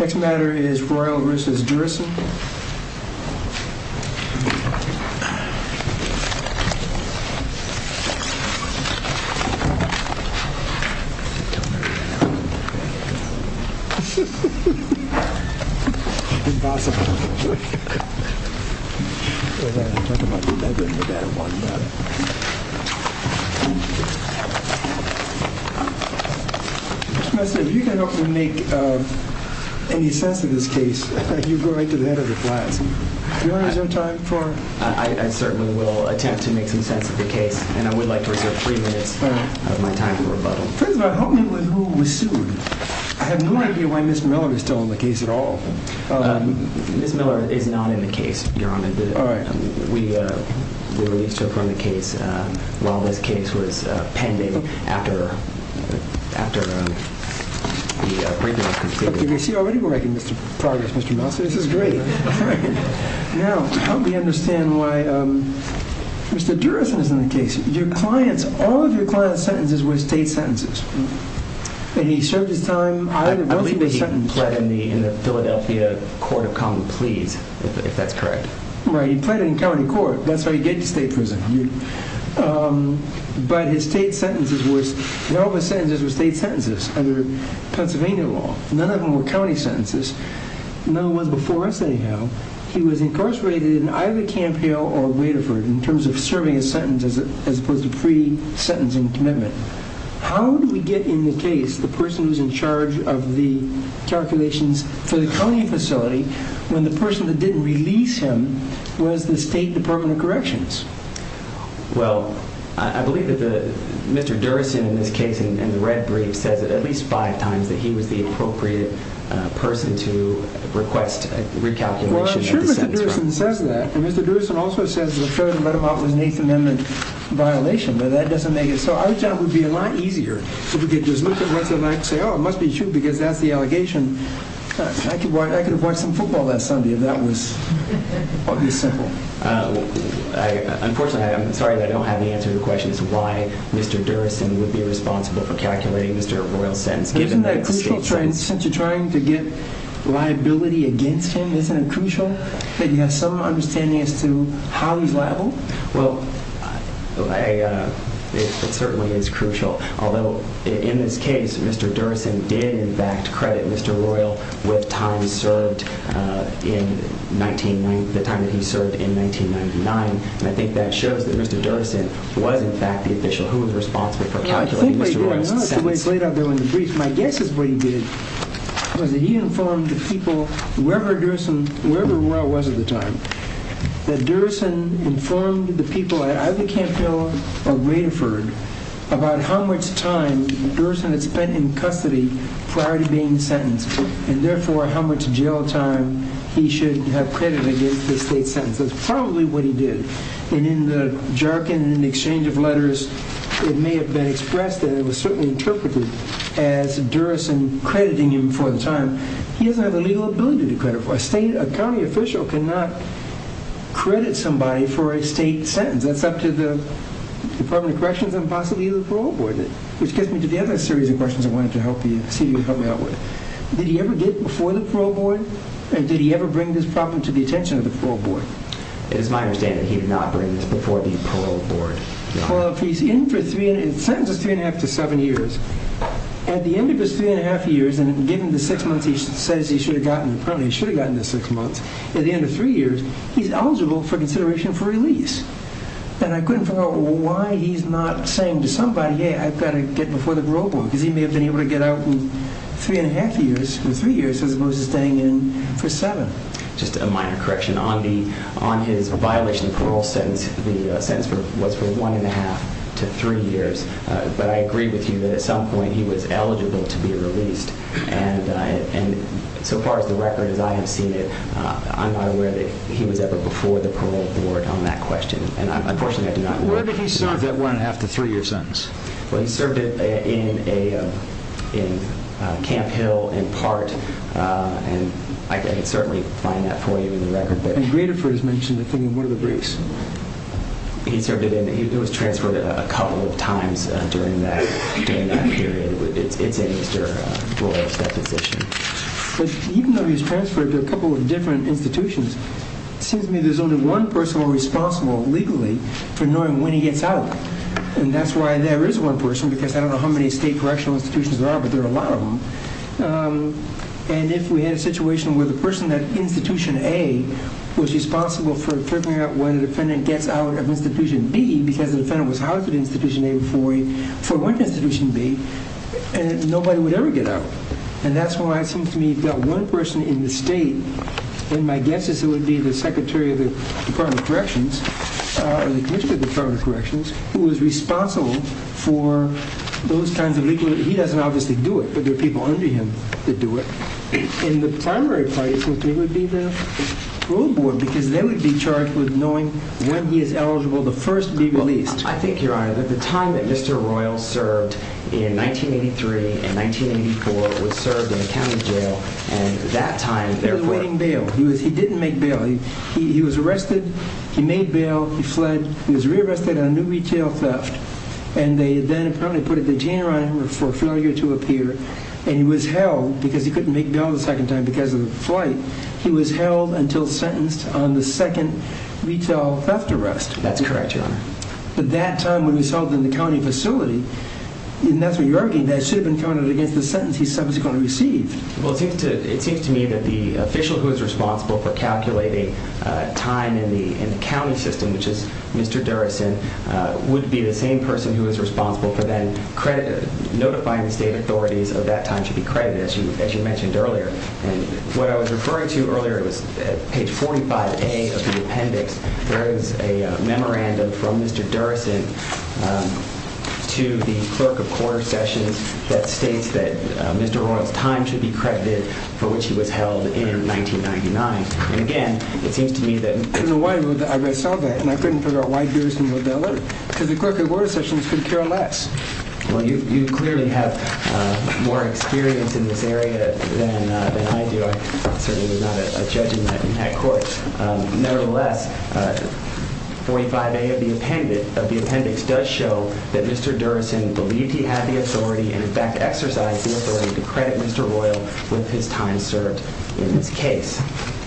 Next matter is Royal v. Durison Next matter is Royal v. Durison I certainly will attempt to make some sense of the case. And I would like to reserve three minutes of my time for rebuttal. First of all, help me with who was sued. I have no idea why Ms. Miller is still in the case at all. Ms. Miller is not in the case, Your Honor. We released her from the case while this case was pending after the briefing was concluded. You can see already we're making progress, Mr. Mouser. This is great. Now, help me understand why Mr. Durison is in the case. All of your client's sentences were state sentences. And he served his time. I believe that he pled in the Philadelphia Court of Common Pleas, if that's correct. Right, he pled in county court. That's how you get to state prison. But his state sentences were state sentences under Pennsylvania law. None of them were county sentences. None of them was before us anyhow. He was incarcerated in either Camp Hill or Raderford in terms of serving his sentence as opposed to pre-sentencing commitment. How do we get in the case the person who's in charge of the calculations for the county facility when the person that didn't release him was the State Department of Corrections? Well, I believe that Mr. Durison in this case, in the red brief, says at least five times that he was the appropriate person to request a recalculation of the sentence. Well, I'm sure Mr. Durison says that. And Mr. Durison also says the third and let him out was an Eighth Amendment violation. But that doesn't make it so. I would say it would be a lot easier if we could just look at what's in there and say, oh, it must be true because that's the allegation. I could have watched some football last Sunday if that was this simple. Unfortunately, I'm sorry, but I don't have the answer to your question as to why Mr. Durison would be responsible for calculating Mr. Royle's sentence. Isn't that crucial since you're trying to get liability against him? Isn't it crucial that you have some understanding as to how he's liable? Well, it certainly is crucial. Although in this case, Mr. Durison did, in fact, credit Mr. Royle with the time that he served in 1999. And I think that shows that Mr. Durison was, in fact, the official who was responsible for calculating Mr. Royle's sentence. My guess is what he did was that he informed the people, wherever Royle was at the time, that Durison informed the people at either Camp Hill or Radiford about how much time Durison had spent in custody prior to being sentenced and, therefore, how much jail time he should have credited against the state sentence. That's probably what he did. And in the Jerkin and the exchange of letters, it may have been expressed that it was certainly interpreted as Durison crediting him for the time. He doesn't have the legal ability to credit for it. A county official cannot credit somebody for a state sentence. That's up to the Department of Corrections and possibly the parole board, which gets me to the other series of questions I wanted to see if you could help me out with. Did he ever get before the parole board? Did he ever bring this problem to the attention of the parole board? It is my understanding that he did not bring this before the parole board. Well, if he's in for three and a half to seven years, at the end of his three and a half years, and given the six months he says he should have gotten, apparently he should have gotten the six months, at the end of three years, he's eligible for consideration for release. And I couldn't figure out why he's not saying to somebody, hey, I've got to get before the parole board, because he may have been able to get out in three and a half years, or three years, as opposed to staying in for seven. Just a minor correction. On his violation of parole sentence, the sentence was for one and a half to three years. But I agree with you that at some point he was eligible to be released. And so far as the record, as I have seen it, I'm not aware that he was ever before the parole board on that question. And unfortunately I do not know. Where did he serve that one and a half to three year sentence? Well, he served it in Camp Hill, in part, and I can certainly find that for you in the record. And Graterford has mentioned it in one of the briefs. He served it in, he was transferred a couple of times during that period. It's in Mr. Royal's deposition. But even though he was transferred to a couple of different institutions, it seems to me there's only one person who is responsible, legally, for knowing when he gets out. And that's why there is one person, because I don't know how many state correctional institutions there are, but there are a lot of them. And if we had a situation where the person at Institution A was responsible for figuring out when a defendant gets out of Institution B, because the defendant was housed at Institution A before he went to Institution B, nobody would ever get out. And that's why it seems to me you've got one person in the state, and my guess is it would be the Secretary of the Department of Corrections, or the Commissioner of the Department of Corrections, who is responsible for those kinds of legalities. He doesn't obviously do it, but there are people under him that do it. And the primary parties would be the rule board, because they would be charged with knowing when he is eligible to first be released. Well, I think, Your Honor, that the time that Mr. Royal served in 1983 and 1984 was served in a county jail, and that time, therefore, He was awaiting bail. He didn't make bail. He was arrested. He made bail. He fled. He was rearrested on new retail theft. And they then apparently put a detainer on him for failure to appear. And he was held, because he couldn't make bail the second time because of the flight. He was held until sentenced on the second retail theft arrest. That's correct, Your Honor. But that time when he was held in the county facility, and that's what you're arguing, that should have been counted against the sentence he subsequently received. Well, it seems to me that the official who is responsible for calculating time in the county system, which is Mr. Durrison, would be the same person who is responsible for then notifying the state authorities of that time should be credited, as you mentioned earlier. And what I was referring to earlier, it was at page 45A of the appendix, there is a memorandum from Mr. Durrison to the clerk of quarter sessions that states that Mr. Royal's time should be credited for which he was held in 1999. And again, it seems to me that... In a way, I saw that, and I couldn't figure out why Durrison would be alert. Because the clerk of quarter sessions could care less. Well, you clearly have more experience in this area than I do. I certainly was not a judge in that court. Nevertheless, 45A of the appendix does show that Mr. Durrison believed he had the authority and, in fact, exercised the authority to credit Mr. Royal with his time served in this case.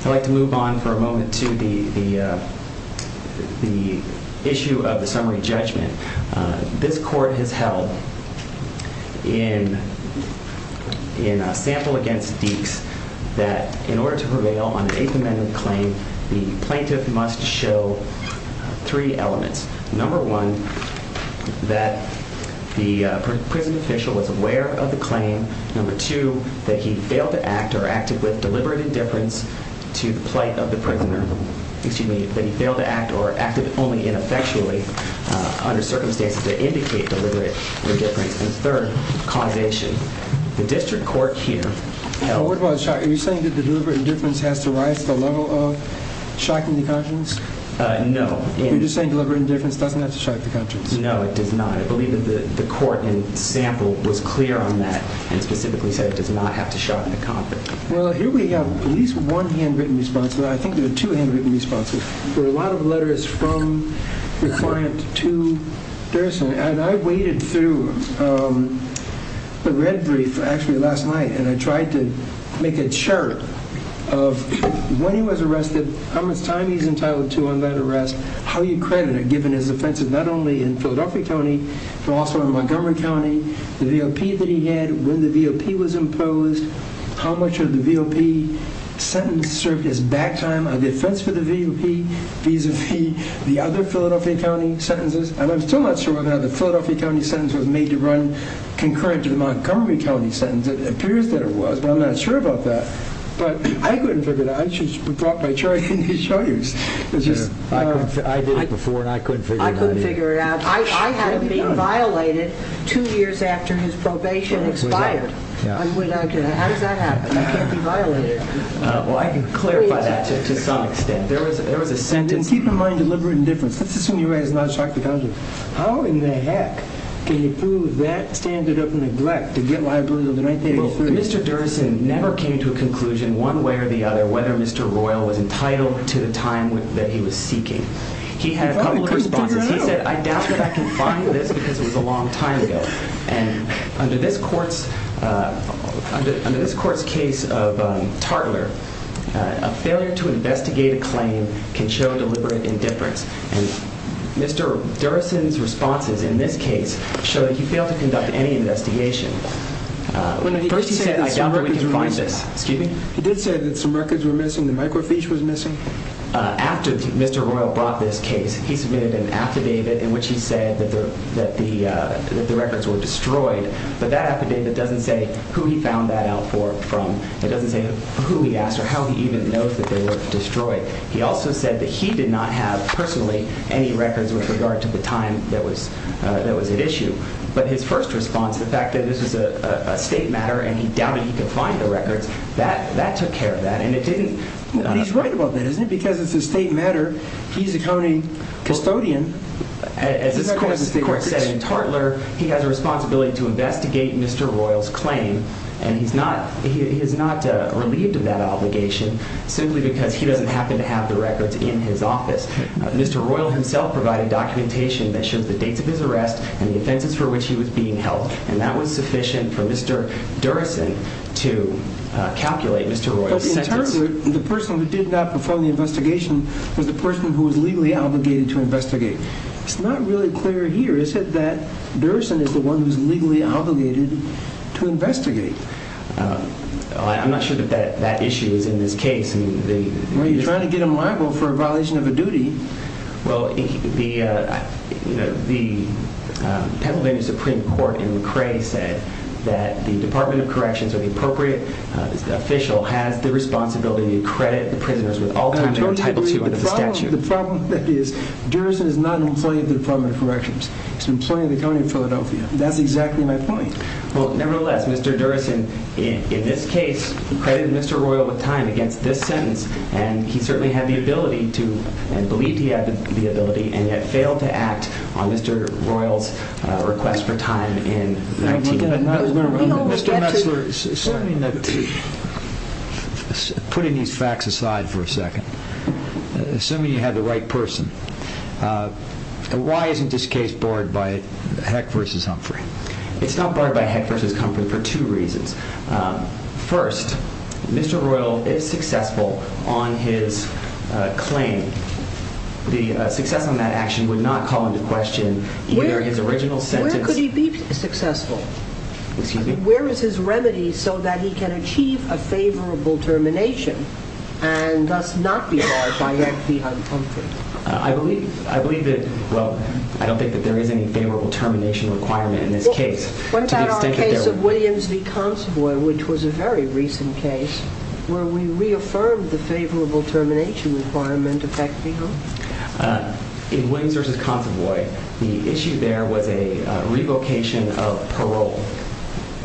I'd like to move on for a moment to the issue of the summary judgment. This court has held in a sample against Deeks that in order to prevail on an Eighth Amendment claim, the plaintiff must show three elements. Number one, that the prison official was aware of the claim. Number two, that he failed to act or acted with deliberate indifference to the plight of the prisoner. Excuse me, that he failed to act or acted only ineffectually under circumstances that indicate deliberate indifference. And third, causation. The district court here held... Are you saying that the deliberate indifference has to rise to the level of shocking the conscience? No. You're just saying deliberate indifference doesn't have to shock the conscience? No, it does not. I believe that the court in the sample was clear on that and specifically said it does not have to shock the conscience. Well, here we have at least one handwritten response, but I think there are two handwritten responses. There are a lot of letters from the client to Durrison. And I waded through the red brief, actually, last night, and I tried to make a chart of when he was arrested, how much time he's entitled to on that arrest, how you credit it, given his offenses, not only in Philadelphia County, but also in Montgomery County, the VOP that he had, when the VOP was imposed, how much of the VOP sentence served as back time on the offense for the VOP, vis-a-vis the other Philadelphia County sentences. And I'm still not sure whether or not the Philadelphia County sentence was made to run concurrent to the Montgomery County sentence. It appears that it was, but I'm not sure about that. But I couldn't figure it out. I just brought my chart in to show you. I did it before, and I couldn't figure it out either. I couldn't figure it out. I hadn't been violated two years after his probation expired. How does that happen? You can't be violated. Well, I can clarify that to some extent. There was a sentence. And keep in mind deliberate indifference. Let's assume he was not a shock to the conscience. How in the heck can you prove that standard of neglect to get liability until 1983? Mr. Derrison never came to a conclusion one way or the other whether Mr. Royal was entitled to the time that he was seeking. He had a couple of responses. He said, I doubt that I can find this because it was a long time ago. And under this court's case of Tartler, a failure to investigate a claim can show deliberate indifference. And Mr. Derrison's responses in this case show that he failed to conduct any investigation. First he said, I doubt that we can find this. He did say that some records were missing, the microfiche was missing. After Mr. Royal brought this case, he submitted an affidavit in which he said that the records were destroyed. But that affidavit doesn't say who he found that out from. It doesn't say who he asked or how he even knows that they were destroyed. He also said that he did not have personally any records with regard to the time that was at issue. But his first response, the fact that this was a state matter and he doubted he could find the records, that took care of that. But he's right about that, isn't it? Because it's a state matter, he's a county custodian. As this court said in Tartler, he has a responsibility to investigate Mr. Royal's claim. And he's not relieved of that obligation simply because he doesn't happen to have the records in his office. Mr. Royal himself provided documentation that shows the dates of his arrest and the offenses for which he was being held. And that was sufficient for Mr. Derrison to calculate Mr. Royal's sentence. In Tartler, the person who did not perform the investigation was the person who was legally obligated to investigate. It's not really clear here, is it, that Derrison is the one who's legally obligated to investigate? I'm not sure that that issue is in this case. Well, you're trying to get him liable for a violation of a duty. Well, the Pennsylvania Supreme Court in McRae said that the Department of Corrections or the appropriate official has the responsibility to credit the prisoners with all time they are entitled to under the statute. The problem is Derrison is not an employee of the Department of Corrections. He's an employee of the County of Philadelphia. That's exactly my point. Well, nevertheless, Mr. Derrison, in this case, credited Mr. Royal with time against this sentence, and he certainly had the ability to, and believed he had the ability, and yet failed to act on Mr. Royal's request for time in 19- Mr. Metzler, putting these facts aside for a second, assuming you had the right person, why isn't this case barred by Heck v. Humphrey? It's not barred by Heck v. Humphrey for two reasons. First, Mr. Royal is successful on his claim. The success on that action would not call into question either his original sentence- Where could he be successful? Excuse me? Where is his remedy so that he can achieve a favorable termination and thus not be barred by Heck v. Humphrey? I believe that, well, I don't think that there is any favorable termination requirement in this case. What about our case of Williams v. Consovoy, which was a very recent case, where we reaffirmed the favorable termination requirement of Heck v. Humphrey? In Williams v. Consovoy, the issue there was a revocation of parole.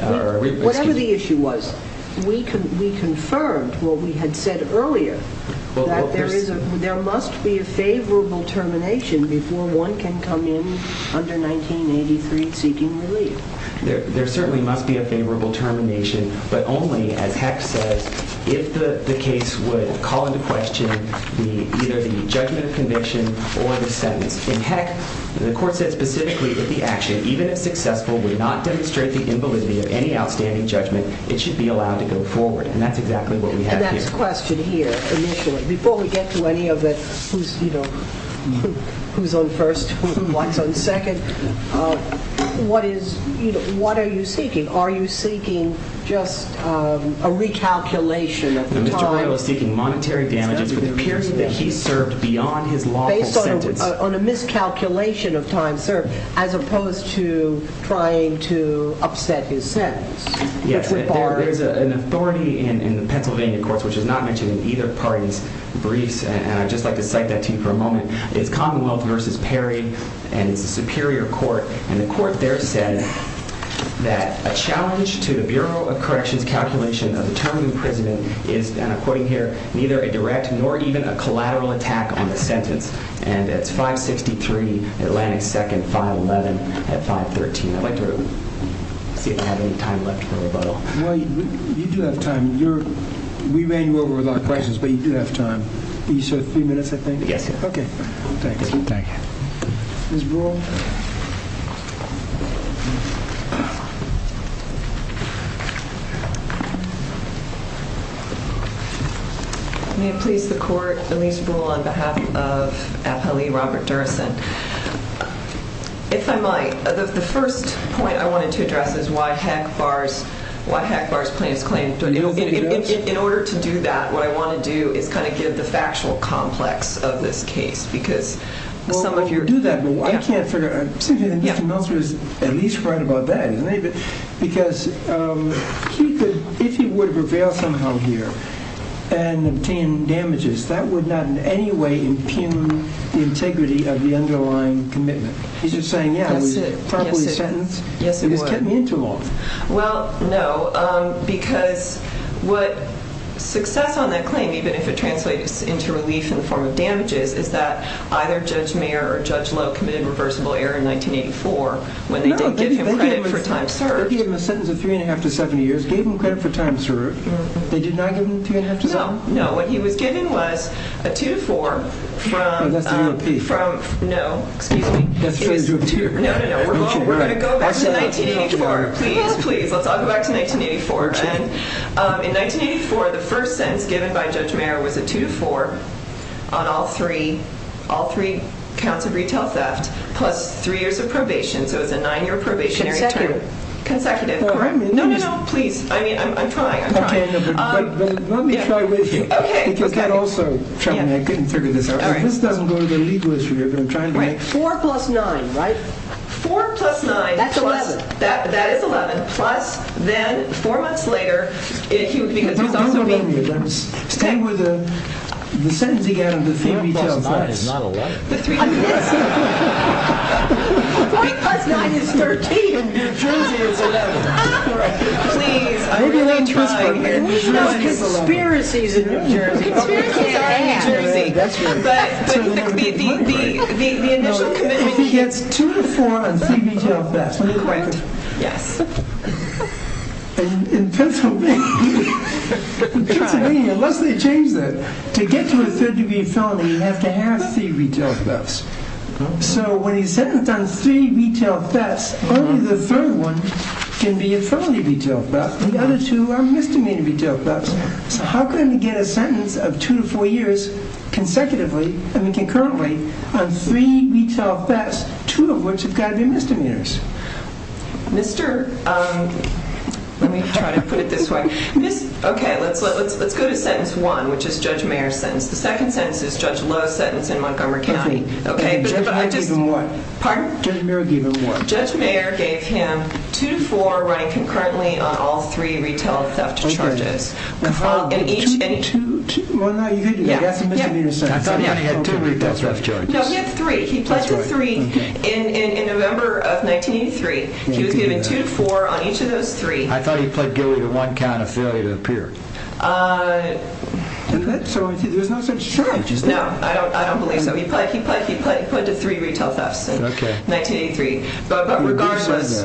Whatever the issue was, we confirmed what we had said earlier, that there must be a favorable termination before one can come in under 1983 seeking relief. There certainly must be a favorable termination, but only, as Heck says, if the case would call into question either the judgment of conviction or the sentence. In Heck, the court said specifically that the action, even if successful, would not demonstrate the invalidity of any outstanding judgment, it should be allowed to go forward, and that's exactly what we have here. My next question here, initially, before we get to any of the who's on first, who's on second, what are you seeking? Are you seeking just a recalculation of time? No, Mr. Royal is seeking monetary damages for the period that he served beyond his lawful sentence. Based on a miscalculation of time served, as opposed to trying to upset his sentence, which would bar it. There is an authority in the Pennsylvania courts, which is not mentioned in either party's briefs, and I'd just like to cite that to you for a moment. It's Commonwealth v. Perry, and it's a superior court, and the court there said that a challenge to the Bureau of Corrections calculation of the term in prison is, and I'm quoting here, neither a direct nor even a collateral attack on the sentence, and it's 563 Atlantic 2nd, 511 at 513. I'd like to see if I have any time left for rebuttal. Well, you do have time. We ran you over with our questions, but you do have time. You served three minutes, I think? Yes, sir. Okay. Thank you. Thank you. Ms. Brewer? May it please the court, Elise Brewer on behalf of FLE Robert Durson. If I might, the first point I wanted to address is why Hackbar's plaintiff's claim. In order to do that, what I want to do is kind of give the factual complex of this case, because some of your— Well, we'll do that, but I can't figure— Mr. Meltzer is at least right about that, isn't he? Because if he were to prevail somehow here and obtain damages, that would not in any way impugn the integrity of the underlying commitment. He's just saying, yeah, it was properly sentenced. Yes, it was. It just kept me in too long. Well, no, because what success on that claim, even if it translates into relief in the form of damages, is that either Judge Mayer or Judge Lowe committed reversible error in 1984 when they didn't give him credit for time served. No, they gave him a sentence of three and a half to seven years, gave him credit for time served. They did not give him three and a half to seven? No, no. What he was given was a two to four from— Oh, that's the UMP. No, excuse me. That's Fair Juvenile Court. No, no, no. We're going to go back to 1984. Please, please. Let's all go back to 1984. In 1984, the first sentence given by Judge Mayer was a two to four on all three counts of retail theft plus three years of probation. So it's a nine-year probationary term. Consecutive. Consecutive, correct? No, no, no. Please. I mean, I'm trying. Let me try with you. You can also tell me. I couldn't figure this out. This doesn't go to the legal issue here, but I'm trying to make— Four plus nine, right? Four plus nine. That's 11. That is 11. Plus, then four months later, he would be— Don't remind me of that. Stay with the sentencing and the three retail thefts. Four plus nine is not 11. Four plus nine is 13. And your jersey is 11. Please. Now, conspiracies in New Jersey. Conspiracies are in New Jersey. But the initial commitment— If he gets two to four on three retail thefts— Correct. Yes. In Pennsylvania, unless they change that, to get to a third-degree felony, you have to have three retail thefts. So when he's sentenced on three retail thefts, only the third one can be a felony retail theft. The other two are misdemeanor retail thefts. So how can we get a sentence of two to four years consecutively— I mean concurrently—on three retail thefts, two of which have got to be misdemeanors? Mr.— Let me try to put it this way. Okay. Let's go to sentence one, which is Judge Mayer's sentence. The second sentence is Judge Lowe's sentence in Montgomery County. Okay. Judge Mayer gave him what? Pardon? Judge Mayer gave him what? Judge Mayer gave him two to four running concurrently on all three retail theft charges. Okay. In each— Two? Well, no, you could do that. That's a misdemeanor sentence. I thought he had two retail theft charges. No, he had three. He pledged to three in November of 1983. He was given two to four on each of those three. I thought he pled guilty to one count of failure to appear. So there's no such charge, is there? No, I don't believe so. He pled to three retail thefts. Okay. In 1983. But regardless—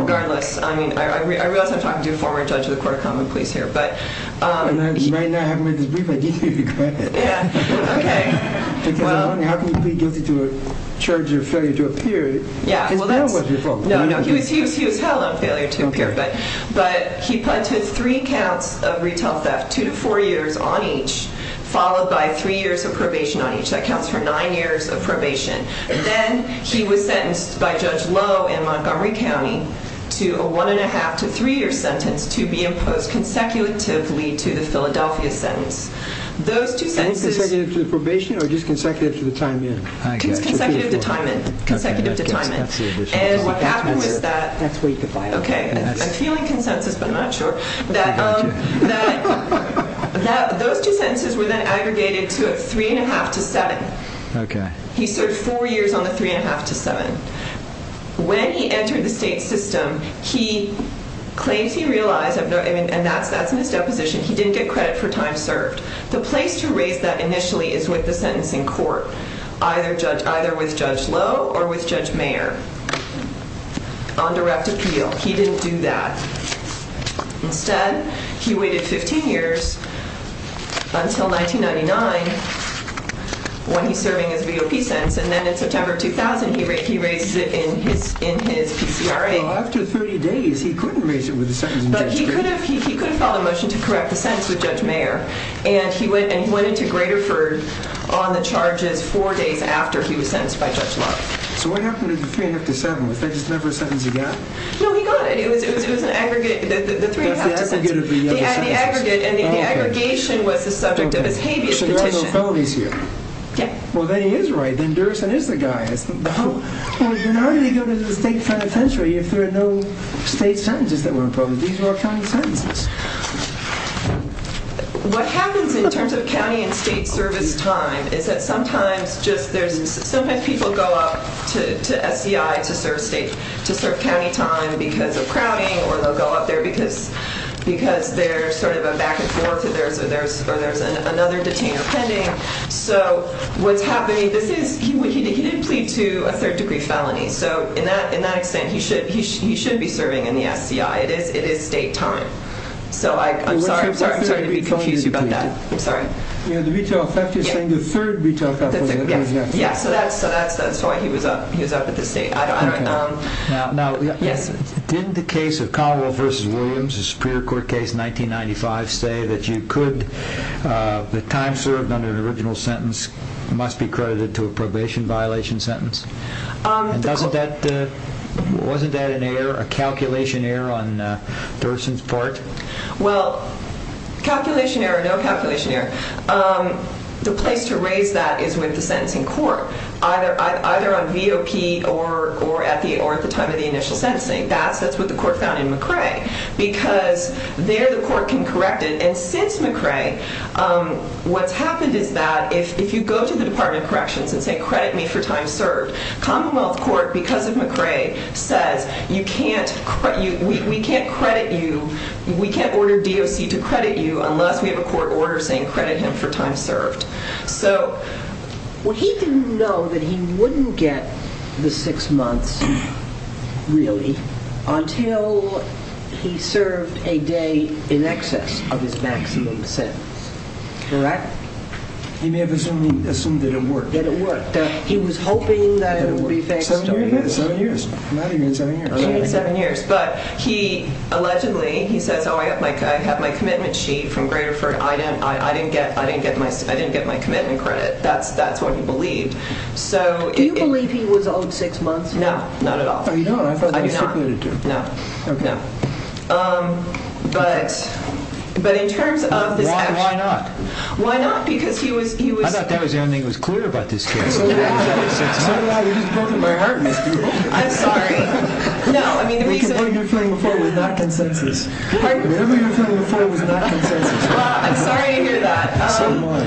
Regardless, I mean, I realize I'm talking to a former judge of the Court of Common Pleas here, but— Right now, having read this brief, I deeply regret it. Yeah, okay. Because how can you plead guilty to a charge of failure to appear? Yeah, well, that's— Because that was your fault. No, no, he was held on failure to appear, but he pled to three counts of retail theft, two to four years on each, followed by three years of probation on each. That counts for nine years of probation. Then he was sentenced by Judge Lowe in Montgomery County to a one-and-a-half to three-year sentence to be imposed consecutively to the Philadelphia sentence. Those two sentences— You mean consecutive to the probation, or just consecutive to the time in? I guess. Consecutive to time in. Consecutive to time in. And what happened was that— That's way too far. Okay. I'm feeling consensus, but I'm not sure. That those two sentences were then aggregated to a three-and-a-half to seven. Okay. He served four years on the three-and-a-half to seven. When he entered the state system, he claims he realized— And that's in his deposition. He didn't get credit for time served. The place to raise that initially is with the sentencing court, either with Judge Lowe or with Judge Mayer on direct appeal. He didn't do that. Instead, he waited 15 years until 1999 when he's serving his VOP sentence, and then in September of 2000, he raises it in his PCRA. Well, after 30 days, he couldn't raise it with the sentencing judge. But he could have filed a motion to correct the sentence with Judge Mayer, and he went into Graterford on the charges four days after he was sentenced by Judge Lowe. So what happened to the three-and-a-half to seven? Was that just never a sentence he got? No, he got it. It was an aggregate— The three-and-a-half to seven. The aggregate of the other sentences. The aggregate, and the aggregation was the subject of his habeas petition. So there are no felonies here? Yeah. Well, then he is right. Then Derrison is the guy. Then how did he go to the state penitentiary if there are no state sentences that were imposed? These were county sentences. What happens in terms of county and state service time is that sometimes just there's— sometimes people go up to SCI to serve state— to serve county time because of crowding, or they'll go up there because there's sort of a back-and-forth or there's another detainer pending. So what's happening— this is—he did plead to a third-degree felony. So in that extent, he should be serving in the SCI. It is state time. So I'm sorry to be confusing you about that. I'm sorry. You know, the retail effect, you're saying the third retail effect was— Yeah, so that's why he was up at the state— I don't— Now, didn't the case of Conwell v. Williams, the Superior Court case, 1995, say that you could— the time served on an original sentence must be credited to a probation violation sentence? And doesn't that— wasn't that an error, a calculation error, on Derrison's part? Well, calculation error, no calculation error. The place to raise that is with the sentencing court, either on VOP or at the time of the initial sentencing. That's what the court found in McRae because there the court can correct it. And since McRae, what's happened is that if you go to the Department of Corrections and say credit me for time served, Commonwealth Court, because of McRae, says you can't—we can't credit you. We can't order DOC to credit you unless we have a court order saying credit him for time served. So he didn't know that he wouldn't get the six months, really, until he served a day in excess of his maximum sentence. Correct? He may have assumed that it worked. That it worked. He was hoping that it would be fixed. Seven years, not even seven years. Not even seven years. But he allegedly, he says, oh, I have my commitment sheet from Graterford. I didn't get my commitment credit. That's what he believed. Do you believe he was owed six months? No, not at all. Oh, you don't? I thought that was stipulated, too. No, no. But in terms of this action— Why not? Why not? Because he was— I thought that was the only thing that was clear about this case. I'm so glad you just broke my heart, Mr. Rowe. I'm sorry. No, I mean, the reason— Whatever you were feeling before was not consensus. Whatever you were feeling before was not consensus. Well, I'm sorry to hear that. So am I.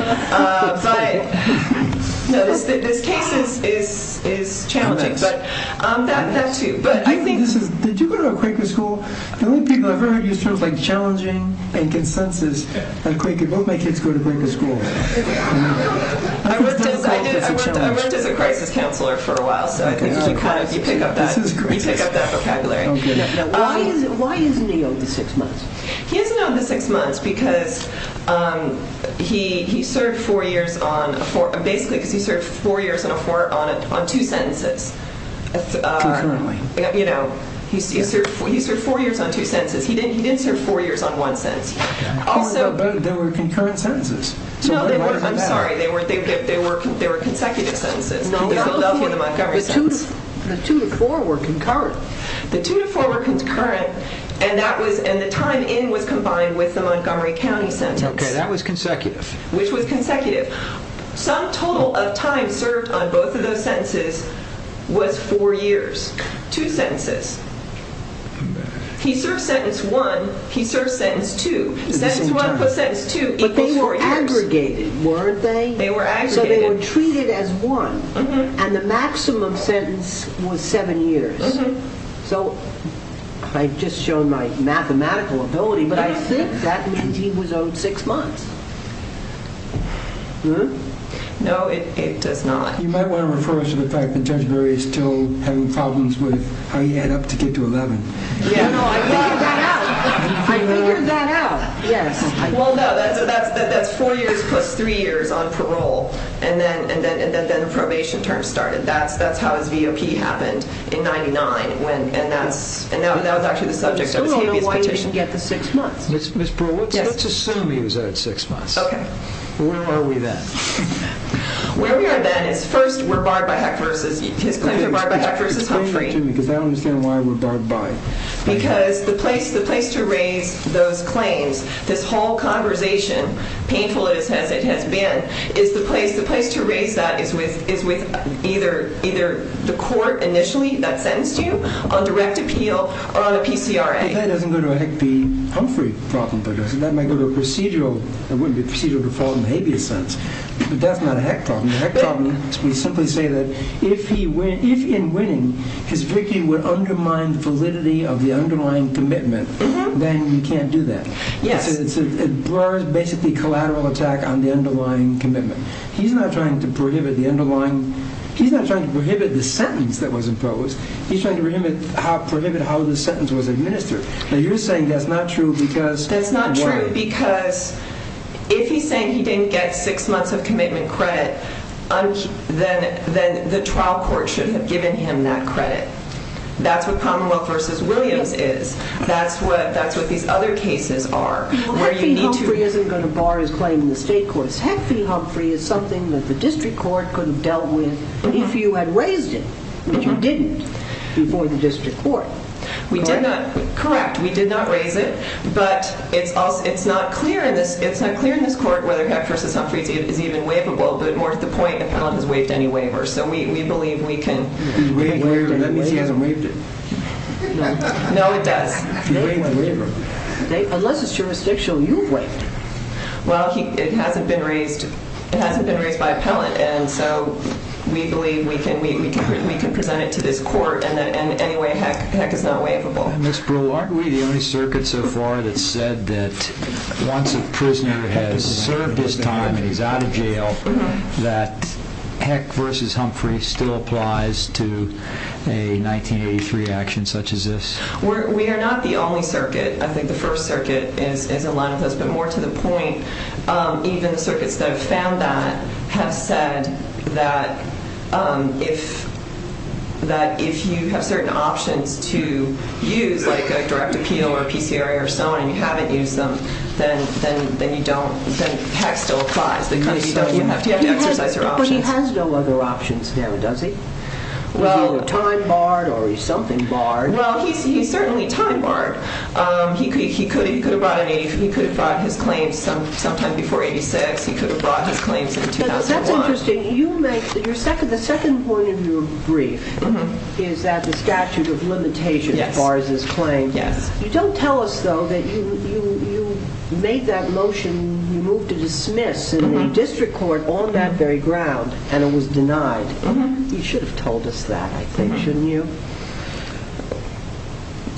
But, no, this case is challenging, but that, too. But I think— Did you go to a Quaker school? The only people I've ever heard you speak of as challenging and consensus are Quaker. Both my kids go to Quaker school. I worked as a crisis counselor for a while, so I think you kind of, you pick up that, you pick up that vocabulary. Why isn't he owed the six months? He isn't owed the six months because he served four years on— basically because he served four years on two sentences. Concurrently. You know, he served four years on two sentences. He didn't serve four years on one sentence. But they were concurrent sentences. No, I'm sorry. They were consecutive sentences. The Philadelphia and the Montgomery sentences. The two to four were concurrent. The two to four were concurrent, and the time in was combined with the Montgomery County sentence. Okay, that was consecutive. Which was consecutive. Some total of time served on both of those sentences was four years. Two sentences. He served sentence one, he served sentence two. Sentence one plus sentence two equals four years. But they were aggregated, weren't they? They were aggregated. So they were treated as one, and the maximum sentence was seven years. So I've just shown my mathematical ability, but I think that means he was owed six months. No, it does not. You might want to refer us to the fact that Judge Berry is still having problems with how you add up to get to 11. No, I figured that out. I figured that out. Well, no, that's four years plus three years on parole, and then probation terms started. That's how his VOP happened in 99, and that was actually the subject of his habeas petition. I still don't know why he didn't get the six months. Ms. Brewer, let's assume he was at six months. Okay. Where are we then? Where we are then is first we're barred by Heck versus Humphrey. Explain that to me, because I don't understand why we're barred by it. Because the place to raise those claims, this whole conversation, painful as it has been, the place to raise that is with either the court initially that sentenced you on direct appeal or on a PCRA. If that doesn't go to a Heck v. Humphrey problem, that might go to a procedural default in the habeas sense, but that's not a Heck problem. The Heck problem is we simply say that if in winning, his victory would undermine the validity of the underlying commitment, then you can't do that. Brewer is basically collateral attack on the underlying commitment. He's not trying to prohibit the sentence that was imposed. He's trying to prohibit how the sentence was administered. Now, you're saying that's not true because why? That's not true because if he's saying he didn't get six months of commitment credit, then the trial court should have given him that credit. That's what Commonwealth v. Williams is. That's what these other cases are. Heck v. Humphrey isn't going to bar his claim in the state courts. Heck v. Humphrey is something that the district court could have dealt with if you had raised it, but you didn't before the district court. Correct. We did not raise it, but it's not clear in this court whether Heck v. Humphrey is even waivable, but more to the point, the panel has waived any waiver, so we believe we can— Waived any waiver? That means he hasn't waived it. No, it does. Unless it's jurisdictional, you've waived it. Well, it hasn't been raised by appellant, and so we believe we can present it to this court in any way Heck is not waivable. Ms. Brewer, aren't we the only circuit so far that said that Heck v. Humphrey still applies to a 1983 action such as this? We are not the only circuit. I think the first circuit is in line with this, but more to the point, even the circuits that have found that have said that if you have certain options to use, like a direct appeal or PCRA or so on, and you haven't used them, then Heck still applies. You have to exercise your options. But he has no other options now, does he? Is he either time barred or is something barred? Well, he's certainly time barred. He could have brought his claims sometime before 86. He could have brought his claims in 2001. That's interesting. The second point of your brief is that the statute of limitations bars his claims. You don't tell us, though, that you made that motion, that you moved to dismiss in the district court on that very ground and it was denied. You should have told us that, I think, shouldn't you?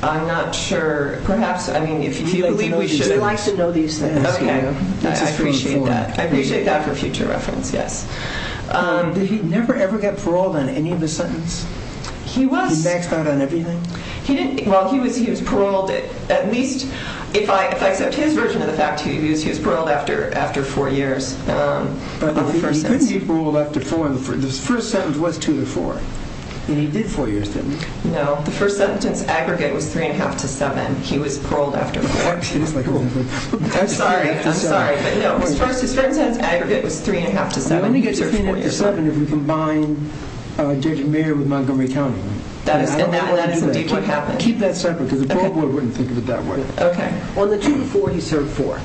I'm not sure. Do you like to know these things? I appreciate that for future reference, yes. Did he never ever get paroled on any of his sentences? He was. He maxed out on everything? Well, he was paroled at least, if I accept his version of the fact, he was paroled after four years. But he couldn't be paroled after four. The first sentence was two to four, and he did four years, didn't he? No. The first sentence aggregate was three and a half to seven. He was paroled after four. I'm sorry. I'm sorry. But no, his first sentence aggregate was three and a half to seven. He only gets three and a half to seven if you combine Judge and Mayor with Montgomery County. And that is indeed what happened. Keep that separate, because the parole board wouldn't think of it that way. Okay. Well, the two to four, he served four.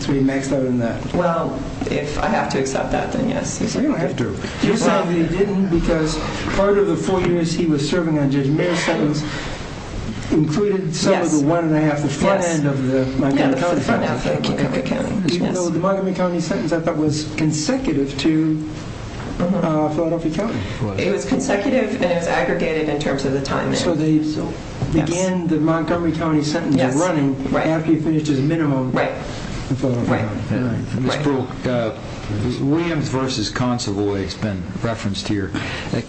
So he maxed out on that. Well, if I have to accept that, then yes. You don't have to. You're sorry that he didn't because part of the four years he was serving on Judge and Mayor's sentence included some of the one and a half, the front end of the Montgomery County sentence. Yeah, the front half of Montgomery County. Even though the Montgomery County sentence, I thought, was consecutive to Philadelphia County. It was consecutive and it was aggregated in terms of the time there. So they began the Montgomery County sentence running after he finished his minimum. Right. Ms. Brewer, Williams v. Consovoy has been referenced here.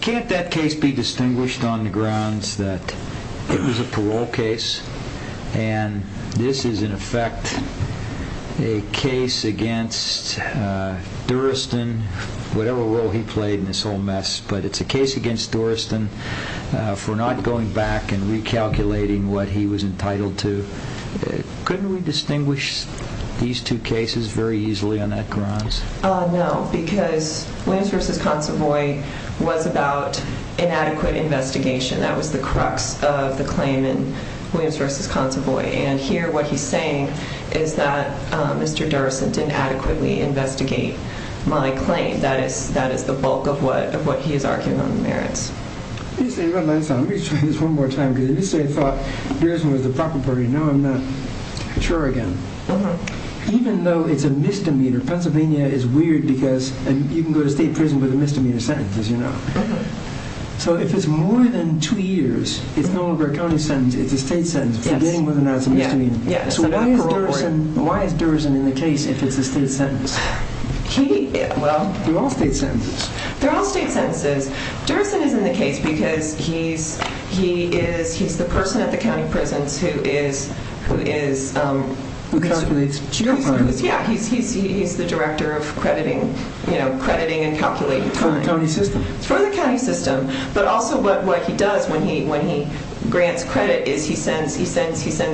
Can't that case be distinguished on the grounds that it was a parole case and this is, in effect, a case against Duristan, whatever role he played in this whole mess, but it's a case against Duristan for not going back and recalculating what he was entitled to? Couldn't we distinguish these two cases very easily on that grounds? No, because Williams v. Consovoy was about inadequate investigation. That was the crux of the claim in Williams v. Consovoy, and here what he's saying is that Mr. Duristan didn't adequately investigate my claim. That is the bulk of what he is arguing on the merits. Let me say one last time. Let me try this one more time. Because initially I thought Duristan was the proper party. Now I'm not sure again. Even though it's a misdemeanor, Pennsylvania is weird because you can go to state prison with a misdemeanor sentence, as you know. So if it's more than two years, it's no longer a county sentence, it's a state sentence, forgetting whether or not it's a misdemeanor. So why is Duristan in the case if it's a state sentence? They're all state sentences. They're all state sentences. Duristan is in the case because he's the person at the county prisons who calculates jail time. Yeah, he's the director of crediting and calculating time. For the county system. For the county system. But also what he does when he grants credit is he sends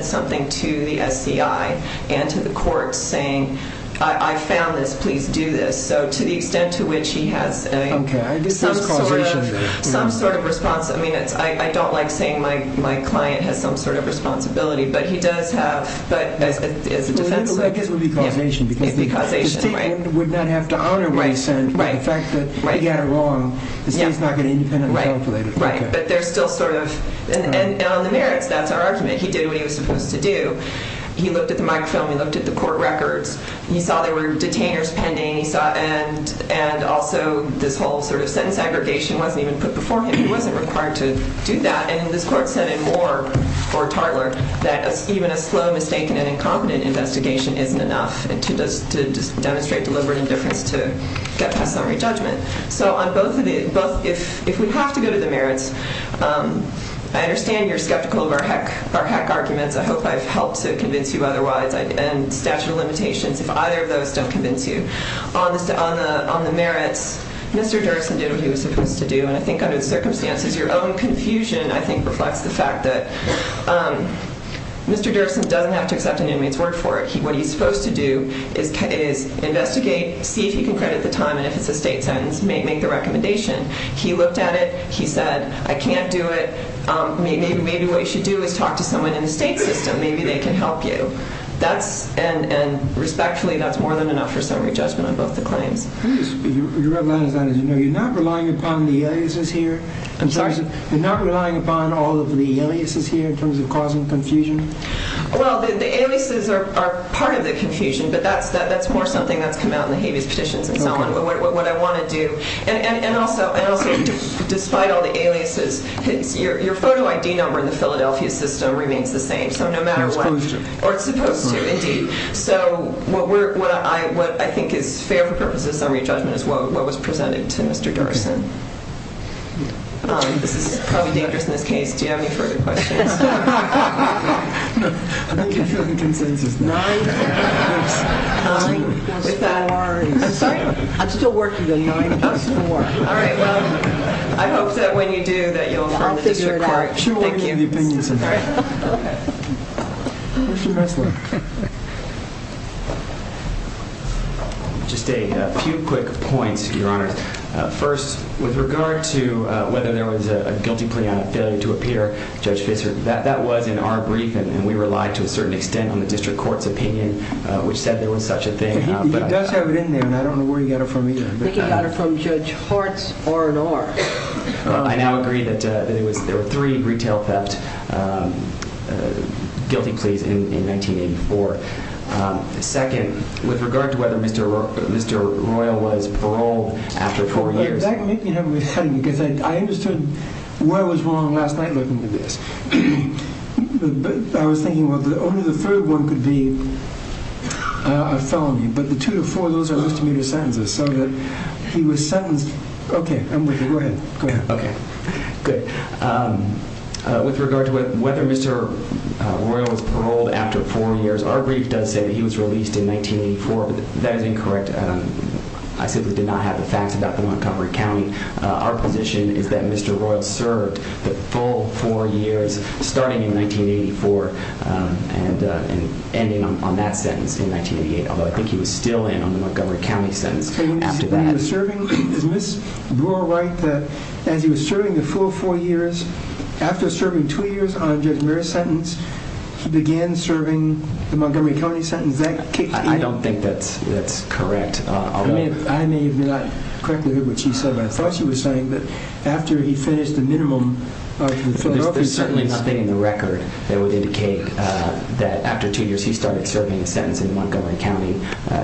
something to the SCI and to the courts saying, I found this, please do this. So to the extent to which he has some sort of responsibility. I mean, I don't like saying my client has some sort of responsibility, but he does have, as a defense. It would be causation, right. The fact that he got it wrong, the state's not going to independently calculate it. Right. But there's still sort of, and on the merits, that's our argument. He did what he was supposed to do. He looked at the microfilm, he looked at the court records, he saw there were detainers pending, and also this whole sort of sentence aggregation wasn't even put before him. He wasn't required to do that. And this court said in Moore v. Tartler that even a slow, mistaken, and incompetent investigation isn't enough to demonstrate deliberate indifference to get past summary judgment. So if we have to go to the merits, I understand you're skeptical of our heck arguments. I hope I've helped to convince you otherwise. And statute of limitations, if either of those don't convince you. On the merits, Mr. Derksen did what he was supposed to do. And I think under the circumstances, your own confusion, I think, reflects the fact that Mr. Derksen doesn't have to accept an inmate's word for it. What he's supposed to do is investigate, see if he can credit the time, and if it's a state sentence, make the recommendation. He looked at it. He said, I can't do it. Maybe what you should do is talk to someone in the state system. Maybe they can help you. And respectfully, that's more than enough for summary judgment on both the claims. You're not relying upon the aliases here? I'm sorry? You're not relying upon all of the aliases here in terms of causing confusion? Well, the aliases are part of the confusion. But that's more something that's come out in the habeas petitions and so on, what I want to do. And also, despite all the aliases, your photo ID number in the Philadelphia system remains the same. So no matter what. It's supposed to. Or it's supposed to, indeed. So what I think is fair for purposes of summary judgment is what was presented to Mr. Derksen. This is probably dangerous in this case. Do you have any further questions? No. I think you're filling consensus now. 9 plus 2. 9 plus 4. I'm sorry? I'm still working on 9 plus 4. All right. Well, I hope that when you do that you'll affirm the district court. I'll figure it out. Thank you. She won't give me the opinions of that. All right. Go ahead. Just a few quick points, Your Honor. First, with regard to whether there was a guilty plea on a failure to appear, Judge Fisher, that was in our brief. And we relied to a certain extent on the district court's opinion, which said there was such a thing. He does have it in there, and I don't know where he got it from either. I think he got it from Judge Hart's R&R. I now agree that there were three retail theft guilty pleas in 1984. Second, with regard to whether Mr. Royal was paroled after four years. That can make me have a headache, because I understood what was wrong last night looking at this. But I was thinking, well, only the third one could be a felony. But the two to four, those are misdemeanor sentences. So that he was sentenced. Okay. I'm with you. Go ahead. Okay. Good. With regard to whether Mr. Royal was paroled after four years. Our brief does say that he was released in 1984, but that is incorrect. I simply did not have the facts about the Montgomery County. Our position is that Mr. Royal served the full four years starting in 1984 and ending on that sentence in 1988. Although I think he was still in on the Montgomery County sentence after that. Is Ms. Brewer right that as he was serving the full four years, after serving two years on Judge Merritt's sentence, he began serving the Montgomery County sentence? I don't think that's correct. I may not have correctly heard what she said, but I thought she was saying that after he finished the minimum of the Philadelphia sentence. There's certainly nothing in the record that would indicate that after two years he started serving a sentence in the Montgomery County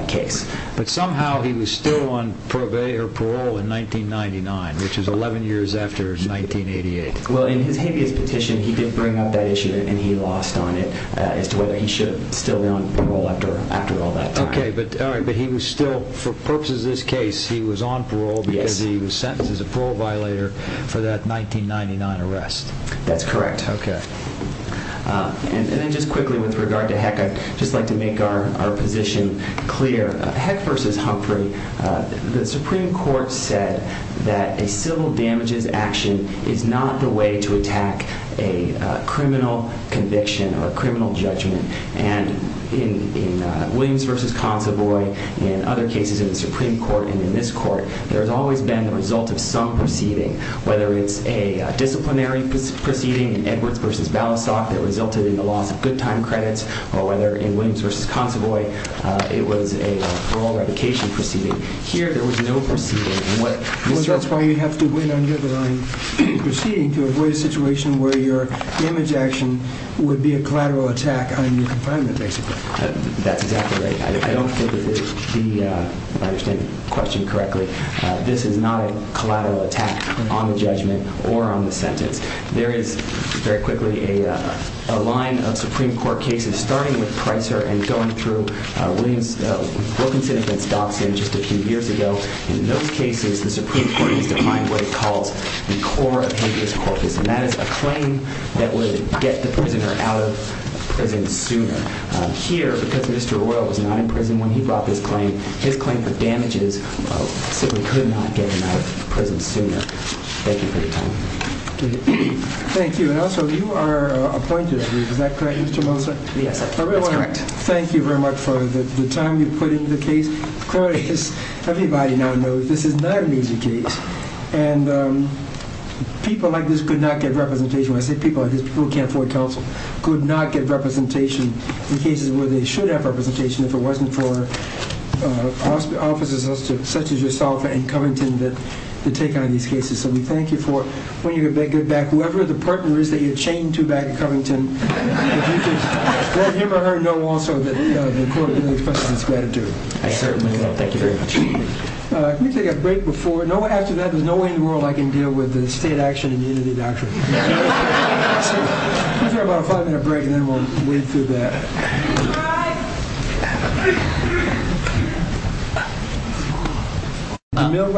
case. But somehow he was still on parole in 1999, which is 11 years after 1988. Well, in his habeas petition, he didn't bring up that issue, and he lost on it as to whether he should still be on parole after all that time. Okay. But he was still, for purposes of this case, he was on parole because he was sentenced as a parole violator for that 1999 arrest. That's correct. Okay. And then just quickly with regard to Heck, I'd just like to make our position clear. Heck v. Humphrey, the Supreme Court said that a civil damages action is not the way to attack a criminal conviction or a criminal judgment. And in Williams v. Consovoy and other cases in the Supreme Court and in this court, there has always been the result of some proceeding, whether it's a disciplinary proceeding in Edwards v. Balasoff that resulted in the loss of good time credits or whether in Williams v. Consovoy it was a parole revocation proceeding. Here there was no proceeding. Well, that's why you'd have to win on your line proceeding to avoid a situation where your damage action would be a collateral attack on your confinement, basically. That's exactly right. If I understand the question correctly, this is not a collateral attack on the judgment or on the sentence. There is, very quickly, a line of Supreme Court cases starting with Pricer and going through Wilkinson v. Dobson just a few years ago. In those cases, the Supreme Court has defined what it calls the core of habeas corpus, and that is a claim that would get the prisoner out of prison sooner. Here, because Mr. Oyl was not in prison when he brought this claim, his claim for damages simply could not get him out of prison sooner. Thank you for your time. Thank you. And also, you are appointed, I believe. Is that correct, Mr. Molestar? Yes, that's correct. I really want to thank you very much for the time you put into the case. Of course, everybody now knows this is not an easy case, and people like this could not get representation. People who can't afford counsel could not get representation in cases where they should have representation if it wasn't for officers such as yourself and Covington to take on these cases. So we thank you for, when you get back, whoever the partner is that you chained to back in Covington, let him or her know also that the court really expresses its gratitude. I certainly will. Thank you very much. Can we take a break before? After that, there's no way in the world I can deal with the state action immunity doctrine. Let's have about a five-minute break, and then we'll wade through that.